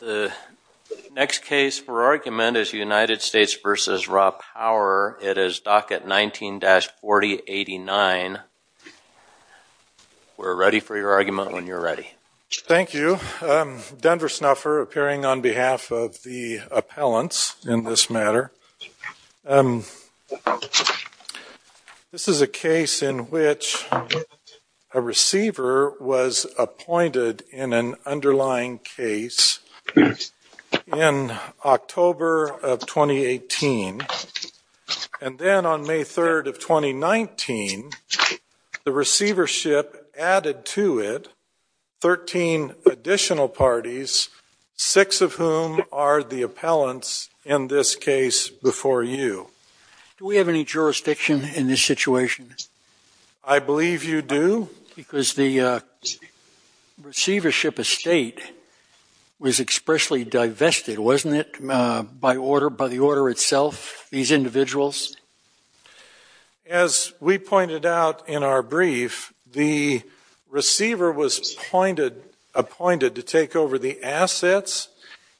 The next case for argument is United States v. RaPower. It is docket 19-4089. We're ready for your argument when you're ready. Thank you. Denver Snuffer appearing on behalf of the appellants in this matter. This is a case in which a receiver was appointed in an underlying case in October of 2018. And then on May 3rd of 2019, the receivership added to it 13 additional parties, six of whom are the appellants in this case before you. Do we have any jurisdiction in this situation? I believe you do. Because the receivership estate was expressly divested, wasn't it, by the order itself, these individuals? As we pointed out in our brief, the receiver was appointed to take over the assets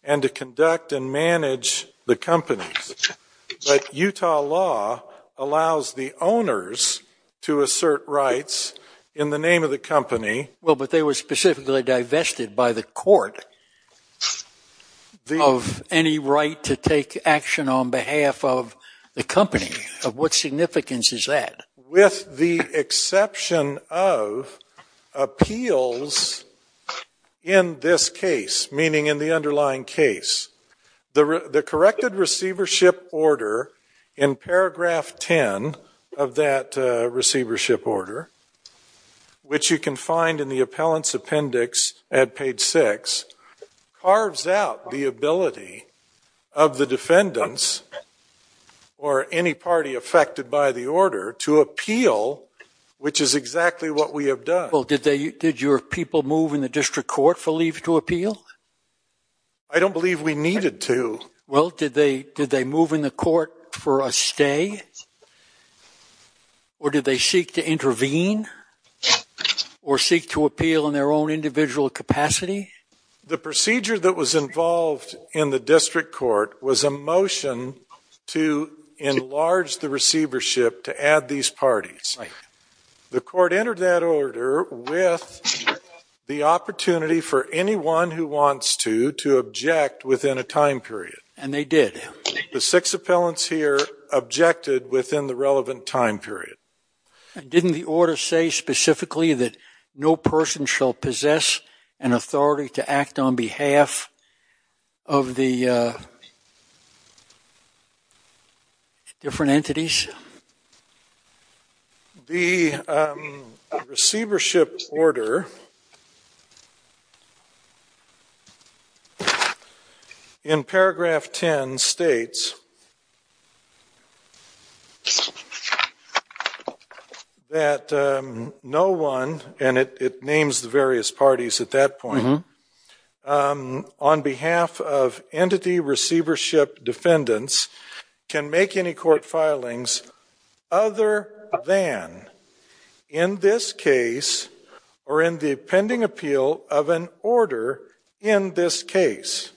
and to conduct and manage the companies. But Utah law allows the owners to assert rights in the name of the company. Well, but they were specifically divested by the court of any right to take action on behalf of the company. What significance is that? With the exception of appeals in this case, meaning in the underlying case, the corrected receivership order in paragraph 10 of that receivership order, which you can find in the appellant's appendix at page 6, carves out the ability of the defendants or any party affected by the order to appeal, which is exactly what we have done. Well, did your people move in the district court for leave to appeal? I don't believe we needed to. Well, did they move in the court for a stay? Or did they seek to intervene or seek to appeal in their own individual capacity? The procedure that was involved in the district court was a motion to enlarge the receivership to add these parties. The court entered that order with the opportunity for anyone who wants to to object within a time period. And they did. The six appellants here objected within the relevant time period. Didn't the order say specifically that no person shall possess an authority to act on behalf of the different entities? The receivership order in paragraph 10 states that no one, and it names the various parties at that point, on behalf of entity receivership defendants can make any court filings other than in this case or in the pending appeal of an order in this case.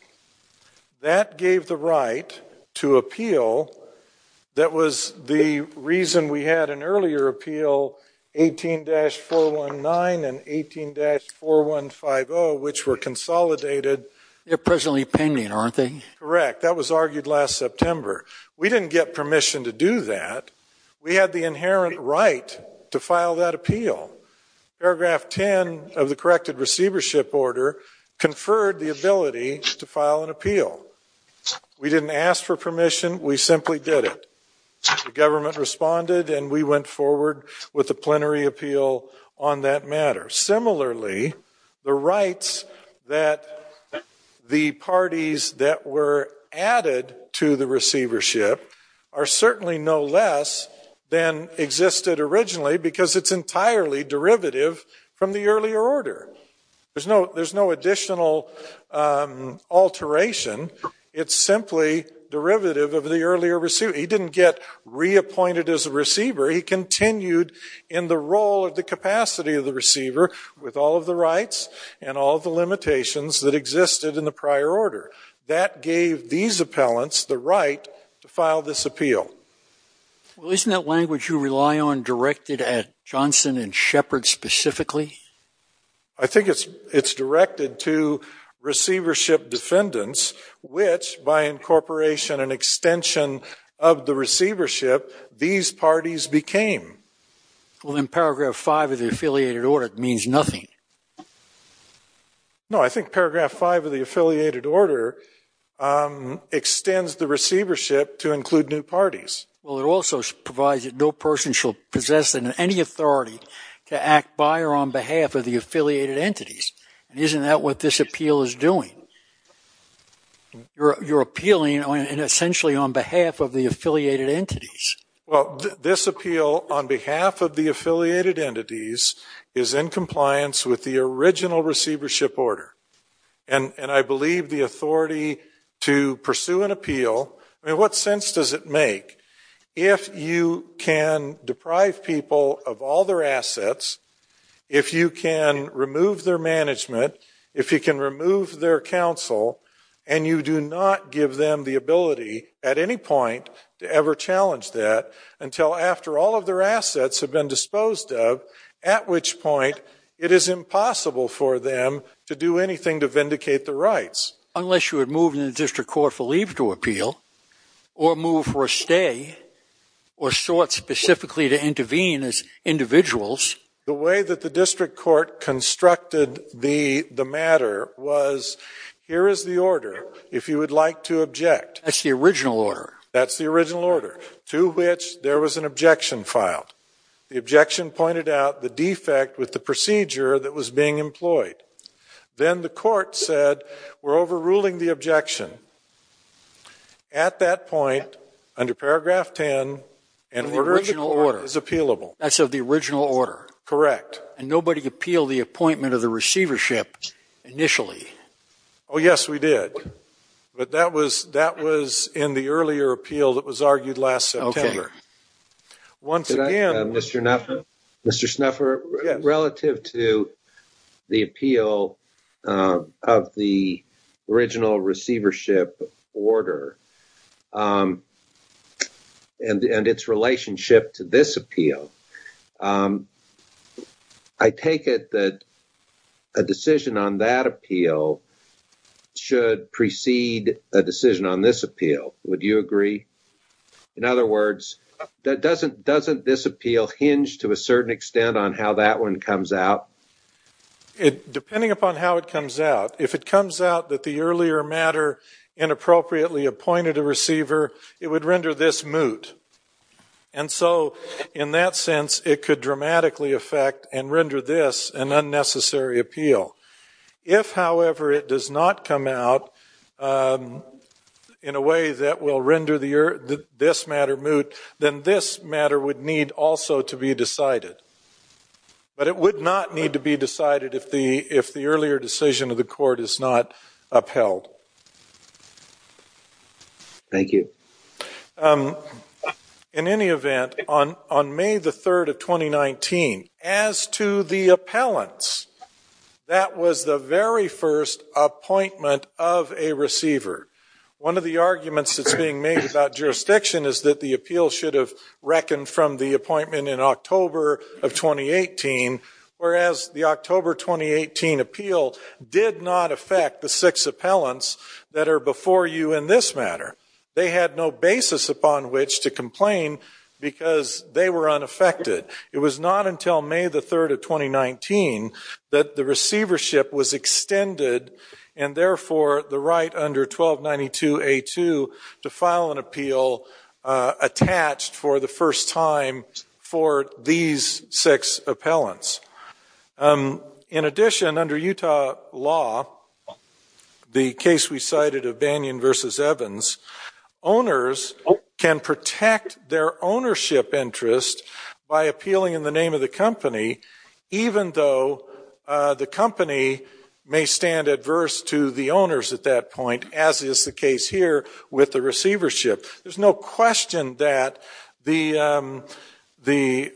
That gave the right to appeal that was the reason we had an earlier appeal 18-419 and 18-4150, which were consolidated. They're presently pending, aren't they? Correct. That was argued last September. We didn't get permission to do that. Paragraph 10 of the corrected receivership order conferred the ability to file an appeal. We didn't ask for permission. We simply did it. The government responded and we went forward with a plenary appeal on that matter. Similarly, the rights that the parties that were added to the receivership are certainly no less than existed originally because it's entirely derivative from the earlier order. There's no additional alteration. It's simply derivative of the earlier receiver. He didn't get reappointed as a receiver. He continued in the role of the capacity of the receiver with all of the rights and all of the limitations that existed in the prior order. That gave these appellants the right to file this appeal. Well, isn't that language you rely on directed at Johnson and Shepard specifically? I think it's directed to receivership defendants, which, by incorporation and extension of the receivership, these parties became. Well, then paragraph 5 of the affiliated order means nothing. No, I think paragraph 5 of the affiliated order extends the receivership to include new parties. Well, it also provides that no person shall possess any authority to act by or on behalf of the affiliated entities. And isn't that what this appeal is doing? You're appealing essentially on behalf of the affiliated entities. Well, this appeal on behalf of the affiliated entities is in compliance with the original receivership order. And I believe the authority to pursue an appeal, I mean, what sense does it make if you can deprive people of all their assets, if you can remove their management, if you can remove their counsel, and you do not give them the ability at any point to ever challenge that until after all of their assets have been disposed of, at which point it is impossible for them to do anything to vindicate their rights. Unless you had moved them to the district court for leave to appeal, or moved for a stay, or sought specifically to intervene as individuals. The way that the district court constructed the matter was, here is the order, if you would like to object. That's the original order. That's the original order, to which there was an objection filed. The objection pointed out the defect with the procedure that was being employed. Then the court said, we're overruling the objection. At that point, under paragraph 10, an order of the court is appealable. That's of the original order. Correct. And nobody appealed the appointment of the receivership initially. Oh, yes, we did. But that was in the earlier appeal that was argued last September. Mr. Snuffer, relative to the appeal of the original receivership order and its relationship to this appeal, I take it that a decision on that appeal should precede a decision on this appeal. Would you agree? In other words, doesn't this appeal hinge to a certain extent on how that one comes out? Depending upon how it comes out, if it comes out that the earlier matter inappropriately appointed a receiver, it would render this moot. And so, in that sense, it could dramatically affect and render this an unnecessary appeal. If, however, it does not come out in a way that will render this matter moot, then this matter would need also to be decided. But it would not need to be decided if the earlier decision of the court is not upheld. Thank you. In any event, on May the 3rd of 2019, as to the appellants, that was the very first appointment of a receiver. One of the arguments that's being made about jurisdiction is that the appeal should have reckoned from the appointment in October of 2018, whereas the October 2018 appeal did not affect the six appellants that are before you in this matter. They had no basis upon which to complain because they were unaffected. It was not until May the 3rd of 2019 that the receivership was extended, and therefore the right under 1292A2 to file an appeal attached for the first time for these six appellants. In addition, under Utah law, the case we cited of Banyan v. Evans, owners can protect their ownership interest by appealing in the name of the company, even though the company may stand adverse to the owners at that point, as is the case here with the receivership. There's no question that the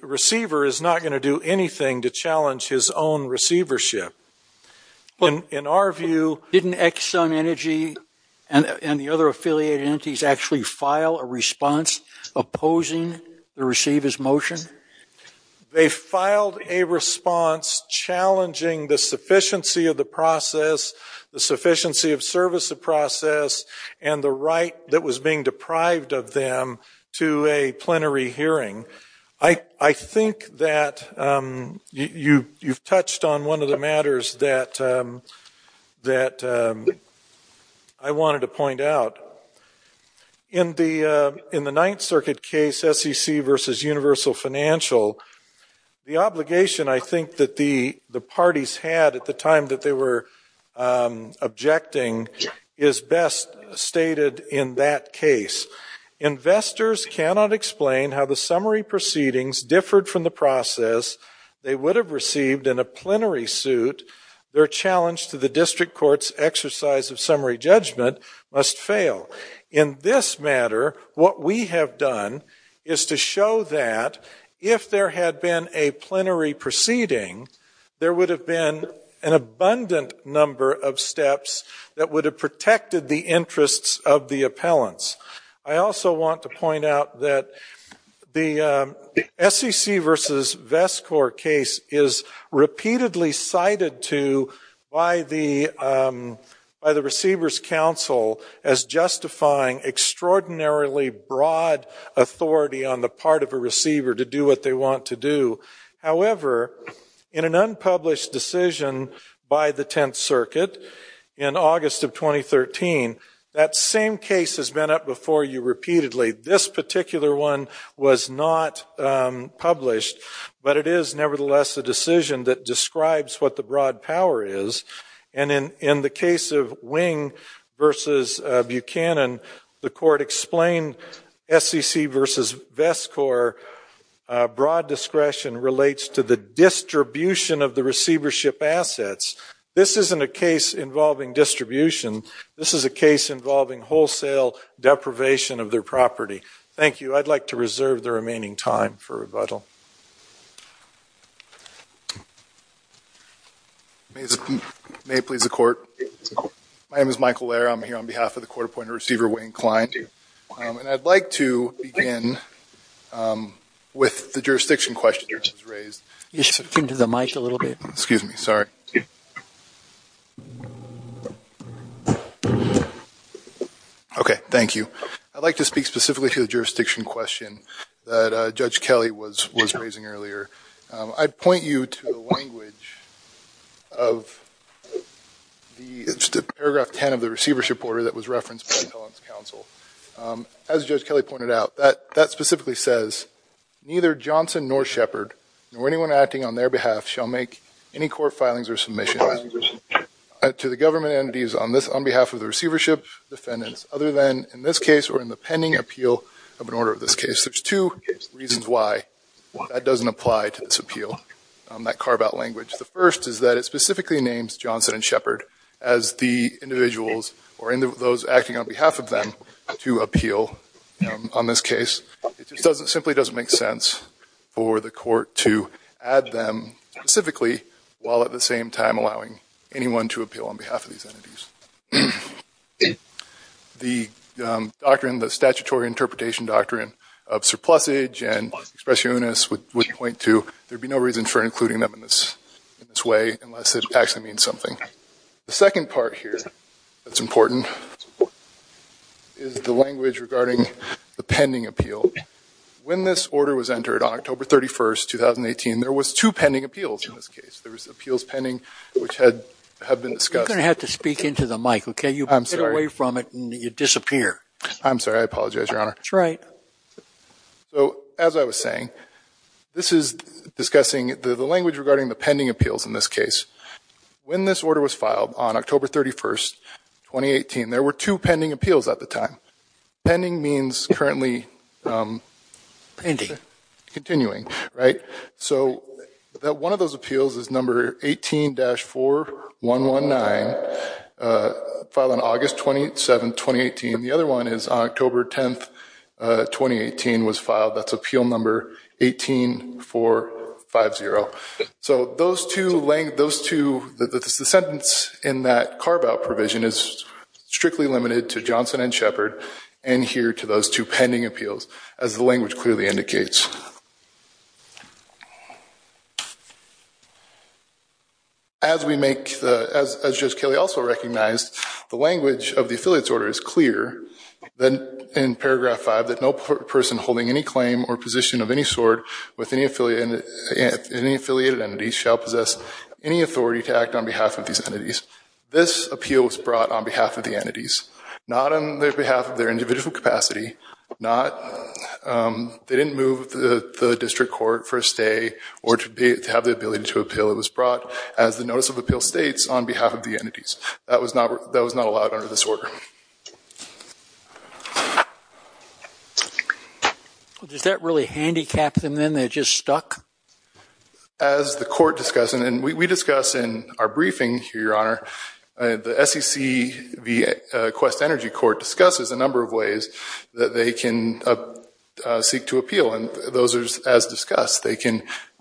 receiver is not going to do anything to challenge his own receivership. In our view, didn't Exxon Energy and the other affiliated entities actually file a response opposing the receiver's motion? They filed a response challenging the sufficiency of the process, the sufficiency of service of process, and the right that was being deprived of them to a plenary hearing. I think that you've touched on one of the matters that I wanted to point out. In the Ninth Circuit case, SEC v. Universal Financial, the obligation I think that the parties had at the time that they were objecting is best stated in that case. Investors cannot explain how the summary proceedings differed from the process. They would have received in a plenary suit. Their challenge to the district court's exercise of summary judgment must fail. In this matter, what we have done is to show that if there had been a plenary proceeding, there would have been an abundant number of steps that would have protected the interests of the appellants. I also want to point out that the SEC v. VESCOR case is repeatedly cited by the receivers' council as justifying extraordinarily broad authority on the part of a receiver to do what they want to do. However, in an unpublished decision by the Tenth Circuit in August of 2013, that same case has been up before you repeatedly. This particular one was not published, but it is nevertheless a decision that describes what the broad power is. In the case of Wing v. Buchanan, the court explained SEC v. VESCOR broad discretion relates to the distribution of the receivership assets. This isn't a case involving distribution. This is a case involving wholesale deprivation of their property. Thank you. I'd like to reserve the remaining time for rebuttal. May it please the Court. My name is Michael Lair. I'm here on behalf of the Court Appointed Receiver, Wayne Klein. And I'd like to begin with the jurisdiction question that was raised. Can you speak into the mic a little bit? Excuse me. Sorry. Okay. Thank you. I'd like to speak specifically to the jurisdiction question that Judge Kelly was raising earlier. I'd point you to the language of the paragraph 10 of the receivership order that was referenced by Appellant's counsel. As Judge Kelly pointed out, that specifically says, neither Johnson nor Shepard, nor anyone acting on their behalf, shall make any court filings or submissions to the government entities on behalf of the receivership defendants, other than in this case or in the pending appeal of an order of this case. There's two reasons why that doesn't apply to this appeal, that carve-out language. The first is that it specifically names Johnson and Shepard as the individuals or those acting on behalf of them to appeal on this case. It just simply doesn't make sense for the court to add them specifically while at the same time allowing anyone to appeal on behalf of these entities. The doctrine, the statutory interpretation doctrine of surplusage and expression unis would point to, there'd be no reason for including them in this way unless it actually means something. The second part here that's important is the language regarding the pending appeal. When this order was entered on October 31st, 2018, there was two pending appeals in this case. There was appeals pending which have been discussed. You're going to have to speak into the mic, okay? I'm sorry. You get away from it and you disappear. I'm sorry. I apologize, Your Honor. That's right. As I was saying, this is discussing the language regarding the pending appeals in this case. When this order was filed on October 31st, 2018, there were two pending appeals at the time. Pending means currently. Pending. Continuing, right? One of those appeals is number 18-419, filed on August 27th, 2018. The other one is October 10th, 2018 was filed. That's appeal number 18-450. Those two, the sentence in that carve-out provision is strictly limited to Johnson & Shepherd and here to those two pending appeals as the language clearly indicates. As Judge Kelly also recognized, the language of the affiliates order is clear in paragraph 5 that no person holding any claim or position of any sort with any affiliated entities shall possess any authority to act on behalf of these entities. This appeal was brought on behalf of the entities, not on behalf of their individual capacity, they didn't move the district court for a stay or to have the ability to appeal. It was brought as the notice of appeal states on behalf of the entities. That was not allowed under this order. Does that really handicap them then? They're just stuck? As the court discussed, and we discussed in our briefing here, Your Honor, the SEC v. Quest Energy Court discusses a number of ways that they can seek to appeal and those are as discussed. They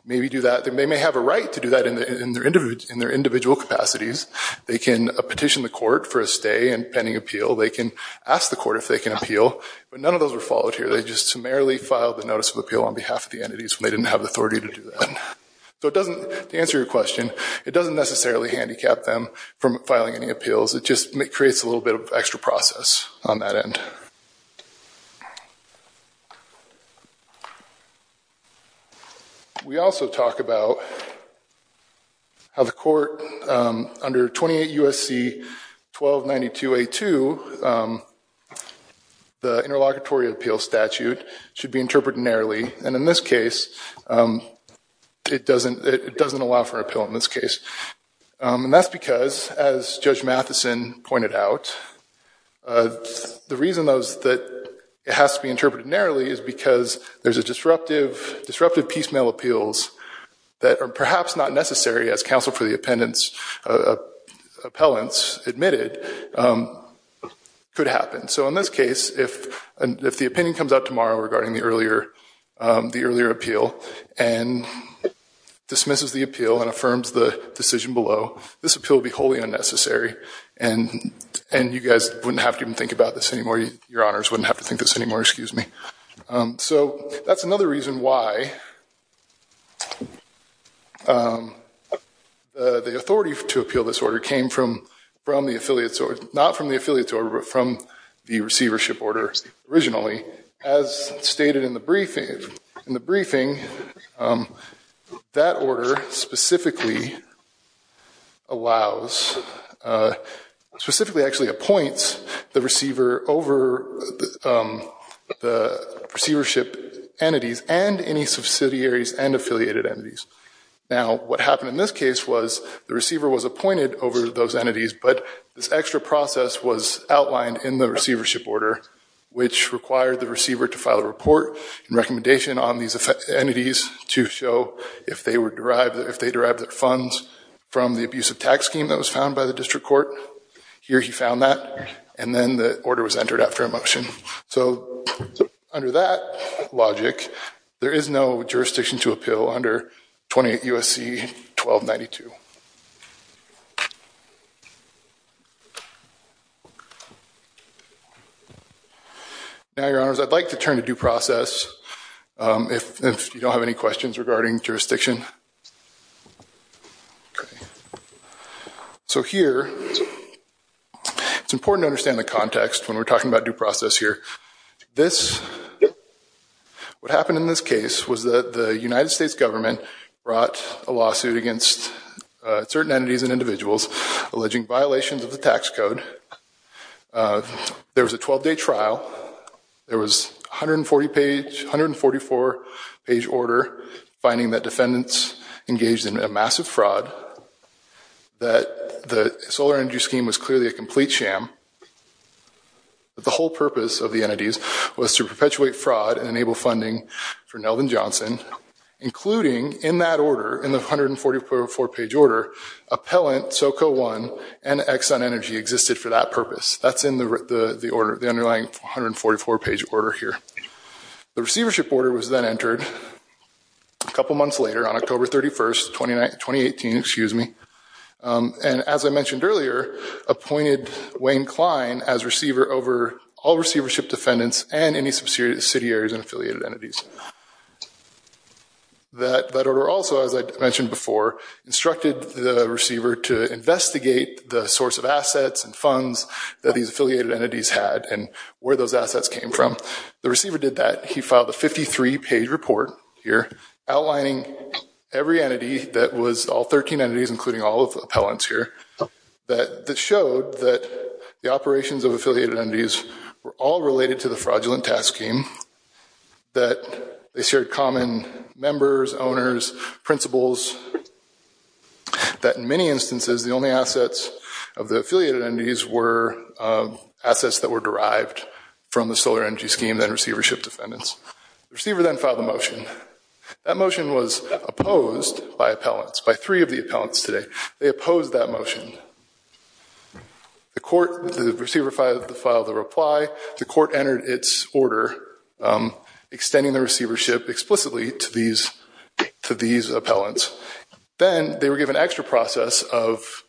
may have a right to do that in their individual capacities. They can petition the court for a stay and pending appeal. They can ask the court if they can appeal, but none of those were followed here. They just summarily filed the notice of appeal on behalf of the entities when they didn't have the authority to do that. To answer your question, it doesn't necessarily handicap them from filing any appeals. It just creates a little bit of extra process on that end. We also talk about how the court, under 28 U.S.C. 1292A2, the interlocutory appeal statute should be interpreted narrowly. In this case, it doesn't allow for an appeal. That's because, as Judge Matheson pointed out, the reason that it has to be interpreted narrowly is because there's disruptive piecemeal appeals that are perhaps not necessary as counsel for the appellants admitted could happen. In this case, if the opinion comes out tomorrow regarding the earlier appeal and dismisses the appeal and affirms the decision below, this appeal would be wholly unnecessary. You guys wouldn't have to even think about this anymore. Your honors wouldn't have to think this anymore. That's another reason why the authority to appeal this order came from not from the affiliates order, but from the receivership order originally. As stated in the briefing, that order specifically allows, specifically actually appoints the receiver over the receivership entities and any subsidiaries and affiliated entities. Now, what happened in this case was the receiver was appointed over those entities but this extra process was outlined in the receivership order, which required the receiver to file a report and recommendation on these entities to show if they derived their funds from the abusive tax scheme that was found by the district court. Here he found that, and then the order was entered after a motion. Under that logic, there is no jurisdiction to appeal under 28 U.S.C. 1292. Now, your honors, I'd like to turn to due process if you don't have any questions regarding jurisdiction. Okay. So here, it's important to understand the context when we're talking about due process here. This, what happened in this case was that the United States government brought a lawsuit against certain entities and individuals alleging violations of the tax code. There was a 12-day trial. There was 140-page, 144-page order finding that defendants engaged in a massive fraud, that the solar energy scheme was clearly a complete sham. The whole purpose of the entities was to perpetuate fraud and enable funding for Nelvin Johnson, including in that order, in the 144-page order, Appellant SoCo1 and Exxon Energy existed for that purpose. That's in the underlying 144-page order here. The receivership order was then entered a couple months later, on October 31st, 2018, and as I mentioned earlier, appointed Wayne Klein as receiver over all receivership defendants and any subsidiaries and affiliated entities. That order also, as I mentioned before, instructed the receiver to investigate the source of assets and funds that these affiliated entities had and where those assets came from. The receiver did that. He filed a 53-page report here outlining every entity that was, all 13 entities including all of the appellants here, that showed that the operations of affiliated entities were all related to the fraudulent tax scheme, that they shared common members, owners, principles, that in many instances, the only assets of the affiliated entities were assets that were derived from the solar energy scheme and receivership defendants. The receiver then filed a motion. That motion was opposed by appellants, by three of the appellants today. They opposed that motion. The court, the receiver filed a reply. The court entered its order extending the receivership explicitly to these appellants. Then they were given an extra process of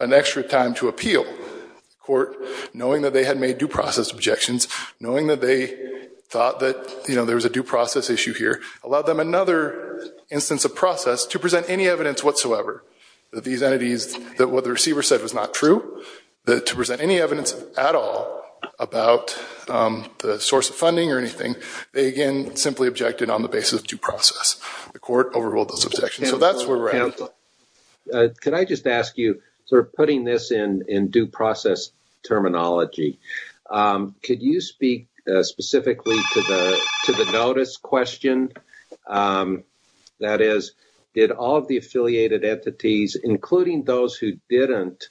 an extra time to appeal. The court, knowing that they had made due process objections, knowing that they thought that there was a due process issue here, allowed them another instance of process to present any evidence whatsoever that these entities, that what the receiver said was not true, that to present any evidence at all about the source of funding or anything, they again simply objected on the basis of due process. The court overruled those objections. So that's where we're at. Could I just ask you, sort of putting this in due process terminology, could you speak specifically to the notice question? That is, did all of the affiliated entities, including those who didn't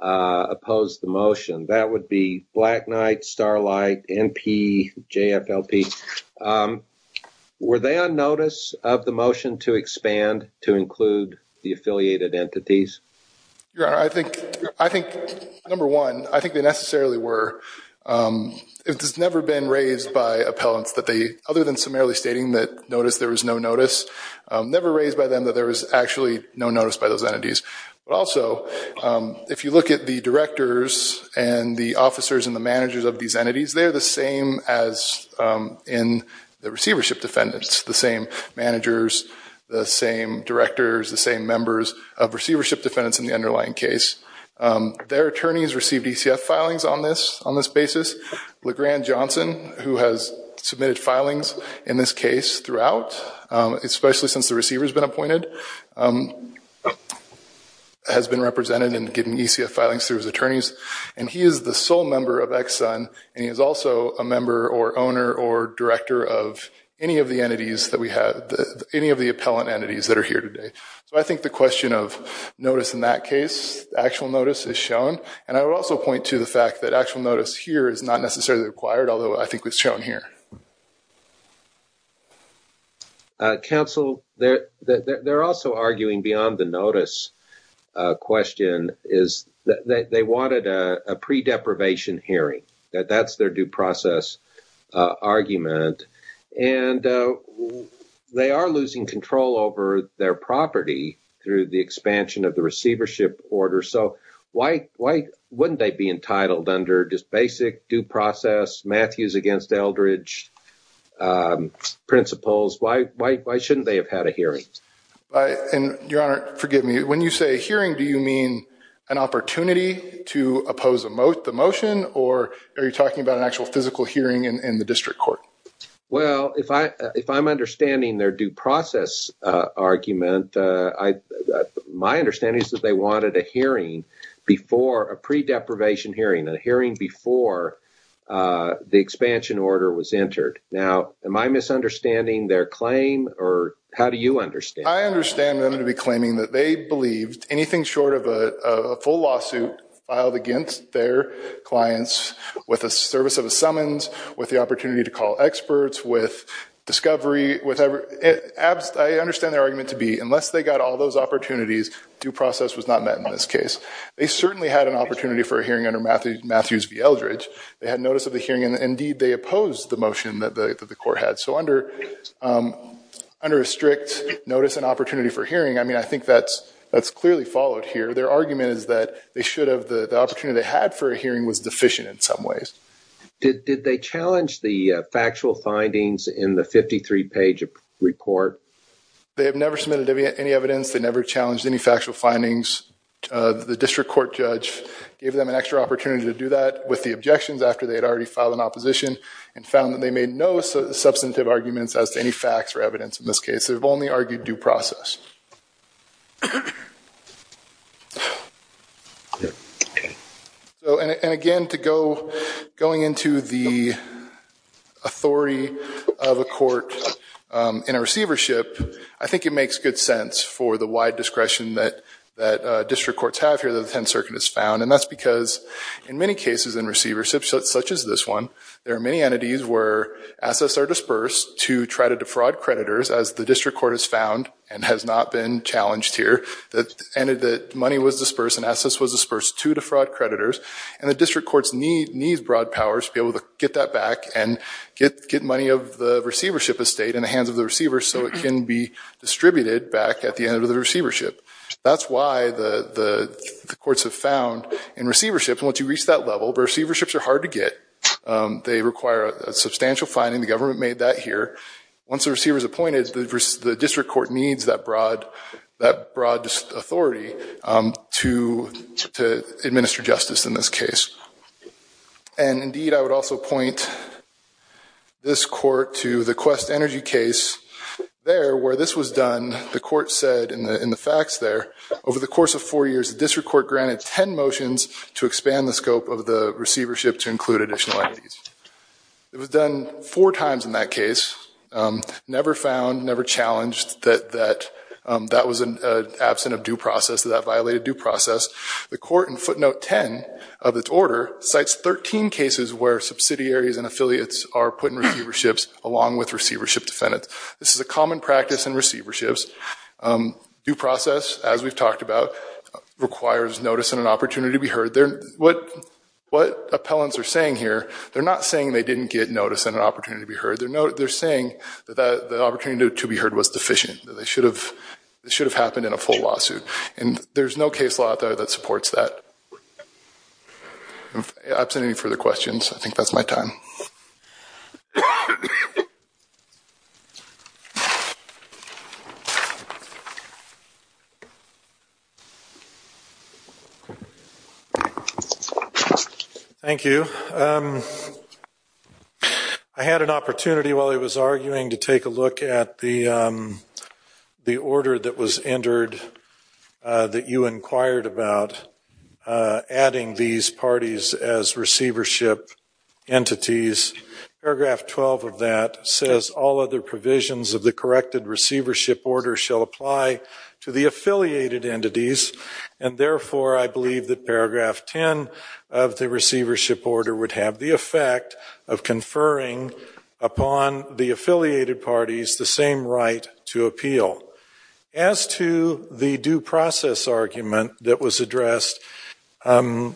oppose the motion, that would be Black Knight, Starlight, NP, JFLP, were they on notice of the motion to expand to include the affiliated entities? Your Honor, I think, number one, I think they necessarily were. It has never been raised by appellants that they, other than summarily stating that notice there was no notice, never raised by them that there was actually no notice by those entities. But also, if you look at the directors and the officers and the managers of these entities, they're the same as in the receivership defendants, the same managers, the same directors, the same members of receivership defendants in the underlying case. Their attorneys received ECF filings on this basis. LeGrand Johnson, who has submitted filings in this case throughout, especially since the receiver has been appointed, has been represented in getting ECF filings through his attorneys. And he is the sole member of Ex-Son, and he is also a member or owner or director of any of the entities that we have, any of the appellant entities that are here today. So I think the question of notice in that case, actual notice, is shown. And I would also point to the fact that actual notice here is not necessarily required, although I think it's shown here. Council, they're also arguing beyond the notice question, is that they wanted a pre-deprivation hearing. That's their due process argument. And they are losing control over their property through the expansion of the receivership order. So why wouldn't they be entitled under just basic due process, Matthews against Eldridge principles? Why shouldn't they have had a hearing? Your Honor, forgive me, when you say hearing, do you mean an opportunity to oppose the motion, or are you talking about an actual physical hearing in the district court? Well, if I'm understanding their due process argument, my understanding is that they wanted a hearing before, a pre-deprivation hearing, a hearing before the expansion order was entered. Now, am I misunderstanding their claim, or how do you understand it? I understand them to be claiming that they believed anything short of a full lawsuit filed against their clients with the service of a summons, with the opportunity to call experts, with discovery, I understand their argument to be, unless they got all those opportunities, due process was not met in this case. They certainly had an opportunity for a hearing under Matthews v. Eldridge. They had notice of the hearing, and indeed they opposed the motion that the court had. So under a strict notice and opportunity for hearing, I mean, I think that's clearly followed here. Their argument is that they should have, the opportunity they had for a hearing was deficient in some ways. Did they challenge the factual findings in the 53-page report? They have never submitted any evidence. They never challenged any factual findings. The district court judge gave them an extra opportunity to do that with the objections after they had already filed an opposition and found that they made no substantive arguments as to any facts or evidence in this case. They've only argued due process. And again, to go, going into the authority of a court in a receivership, I think it makes good sense for the wide discretion that district courts have here that the 10th Circuit has found. And that's because in many cases in receiverships, such as this one, there are many entities where assets are dispersed to try to defraud creditors, as the district court has found and has not found, has not been challenged here, that money was dispersed and assets were dispersed to defraud creditors. And the district courts need broad powers to be able to get that back and get money of the receivership estate in the hands of the receivers so it can be distributed back at the end of the receivership. That's why the courts have found in receiverships, once you reach that level, receiverships are hard to get. They require a substantial finding. The government made that here. Once a receiver is appointed, the district court needs that broad authority to administer justice in this case. And indeed, I would also point this court to the Quest Energy case. There, where this was done, the court said in the facts there, over the course of four years, the district court granted 10 motions to expand the scope of the receivership to include additional entities. It was done four times in that case. Never found, never challenged that that was absent of due process, that that violated due process. The court in footnote 10 of its order cites 13 cases where subsidiaries and affiliates are put in receiverships along with receivership defendants. This is a common practice in receiverships. Due process, as we've talked about, requires notice and an opportunity to be heard. What appellants are saying here, they're not saying they didn't get notice and an opportunity to be heard. They're saying that the opportunity to be heard was deficient, that it should have happened in a full lawsuit. And there's no case law that supports that. If there aren't any further questions, I think that's my time. Thank you. I had an opportunity while I was arguing to take a look at the order that was entered that you inquired about adding these parties as receivership entities. Paragraph 12 of that says all other provisions of the corrected receivership order shall apply to the affiliated entities, and therefore I believe that paragraph 10 of the receivership order would have the effect of conferring upon the affiliated parties the same right to appeal. As to the due process argument that was addressed, the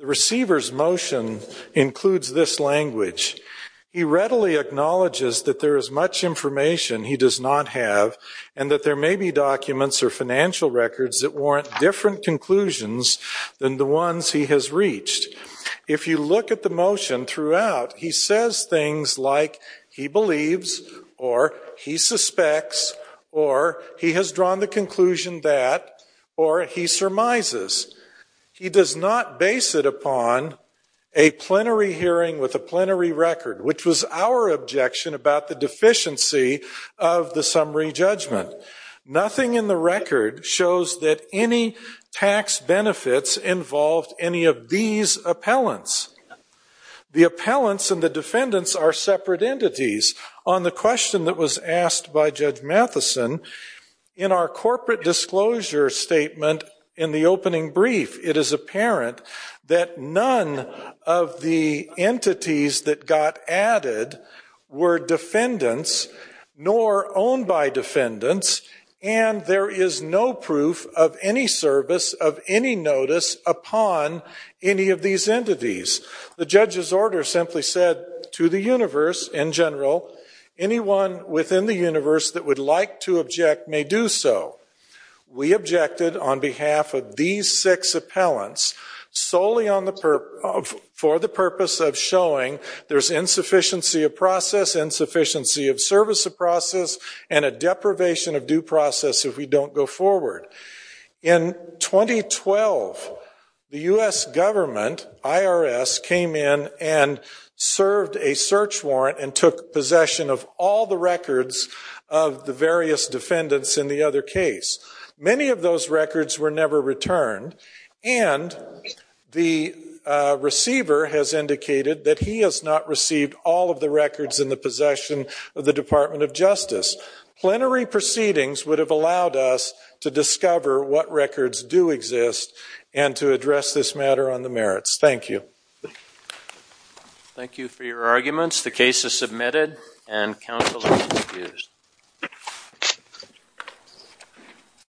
receiver's motion includes this language. He readily acknowledges that there is much information he does not have and that there may be documents or financial records that warrant different conclusions than the ones he has reached. If you look at the motion throughout, he says things like he believes, or he suspects, or he has drawn the conclusion that, or he surmises. He does not base it upon a plenary hearing with a plenary record, which was our objection about the deficiency of the summary judgment. Nothing in the record shows that any tax benefits involved any of these appellants. The appellants and the defendants are separate entities. On the question that was asked by Judge Matheson, in our corporate disclosure statement in the opening brief, it is apparent that none of the entities that got added were defendants, nor owned by defendants, and there is no proof of any service of any notice upon any of these entities. The judge's order simply said to the universe in general, anyone within the universe that would like to object may do so. We objected on behalf of these six appellants solely for the purpose of showing there's insufficiency of process, insufficiency of service of process, and a deprivation of due process if we don't go forward. In 2012, the U.S. government, IRS, came in and served a search warrant and took possession of all the records of the various defendants in the other case. Many of those records were never returned, and the receiver has indicated that he has not received all of the records in the possession of the Department of Justice. Plenary proceedings would have allowed us to discover what records do exist and to address this matter on the merits. Thank you. Thank you for your arguments. The case is submitted and counsel is excused.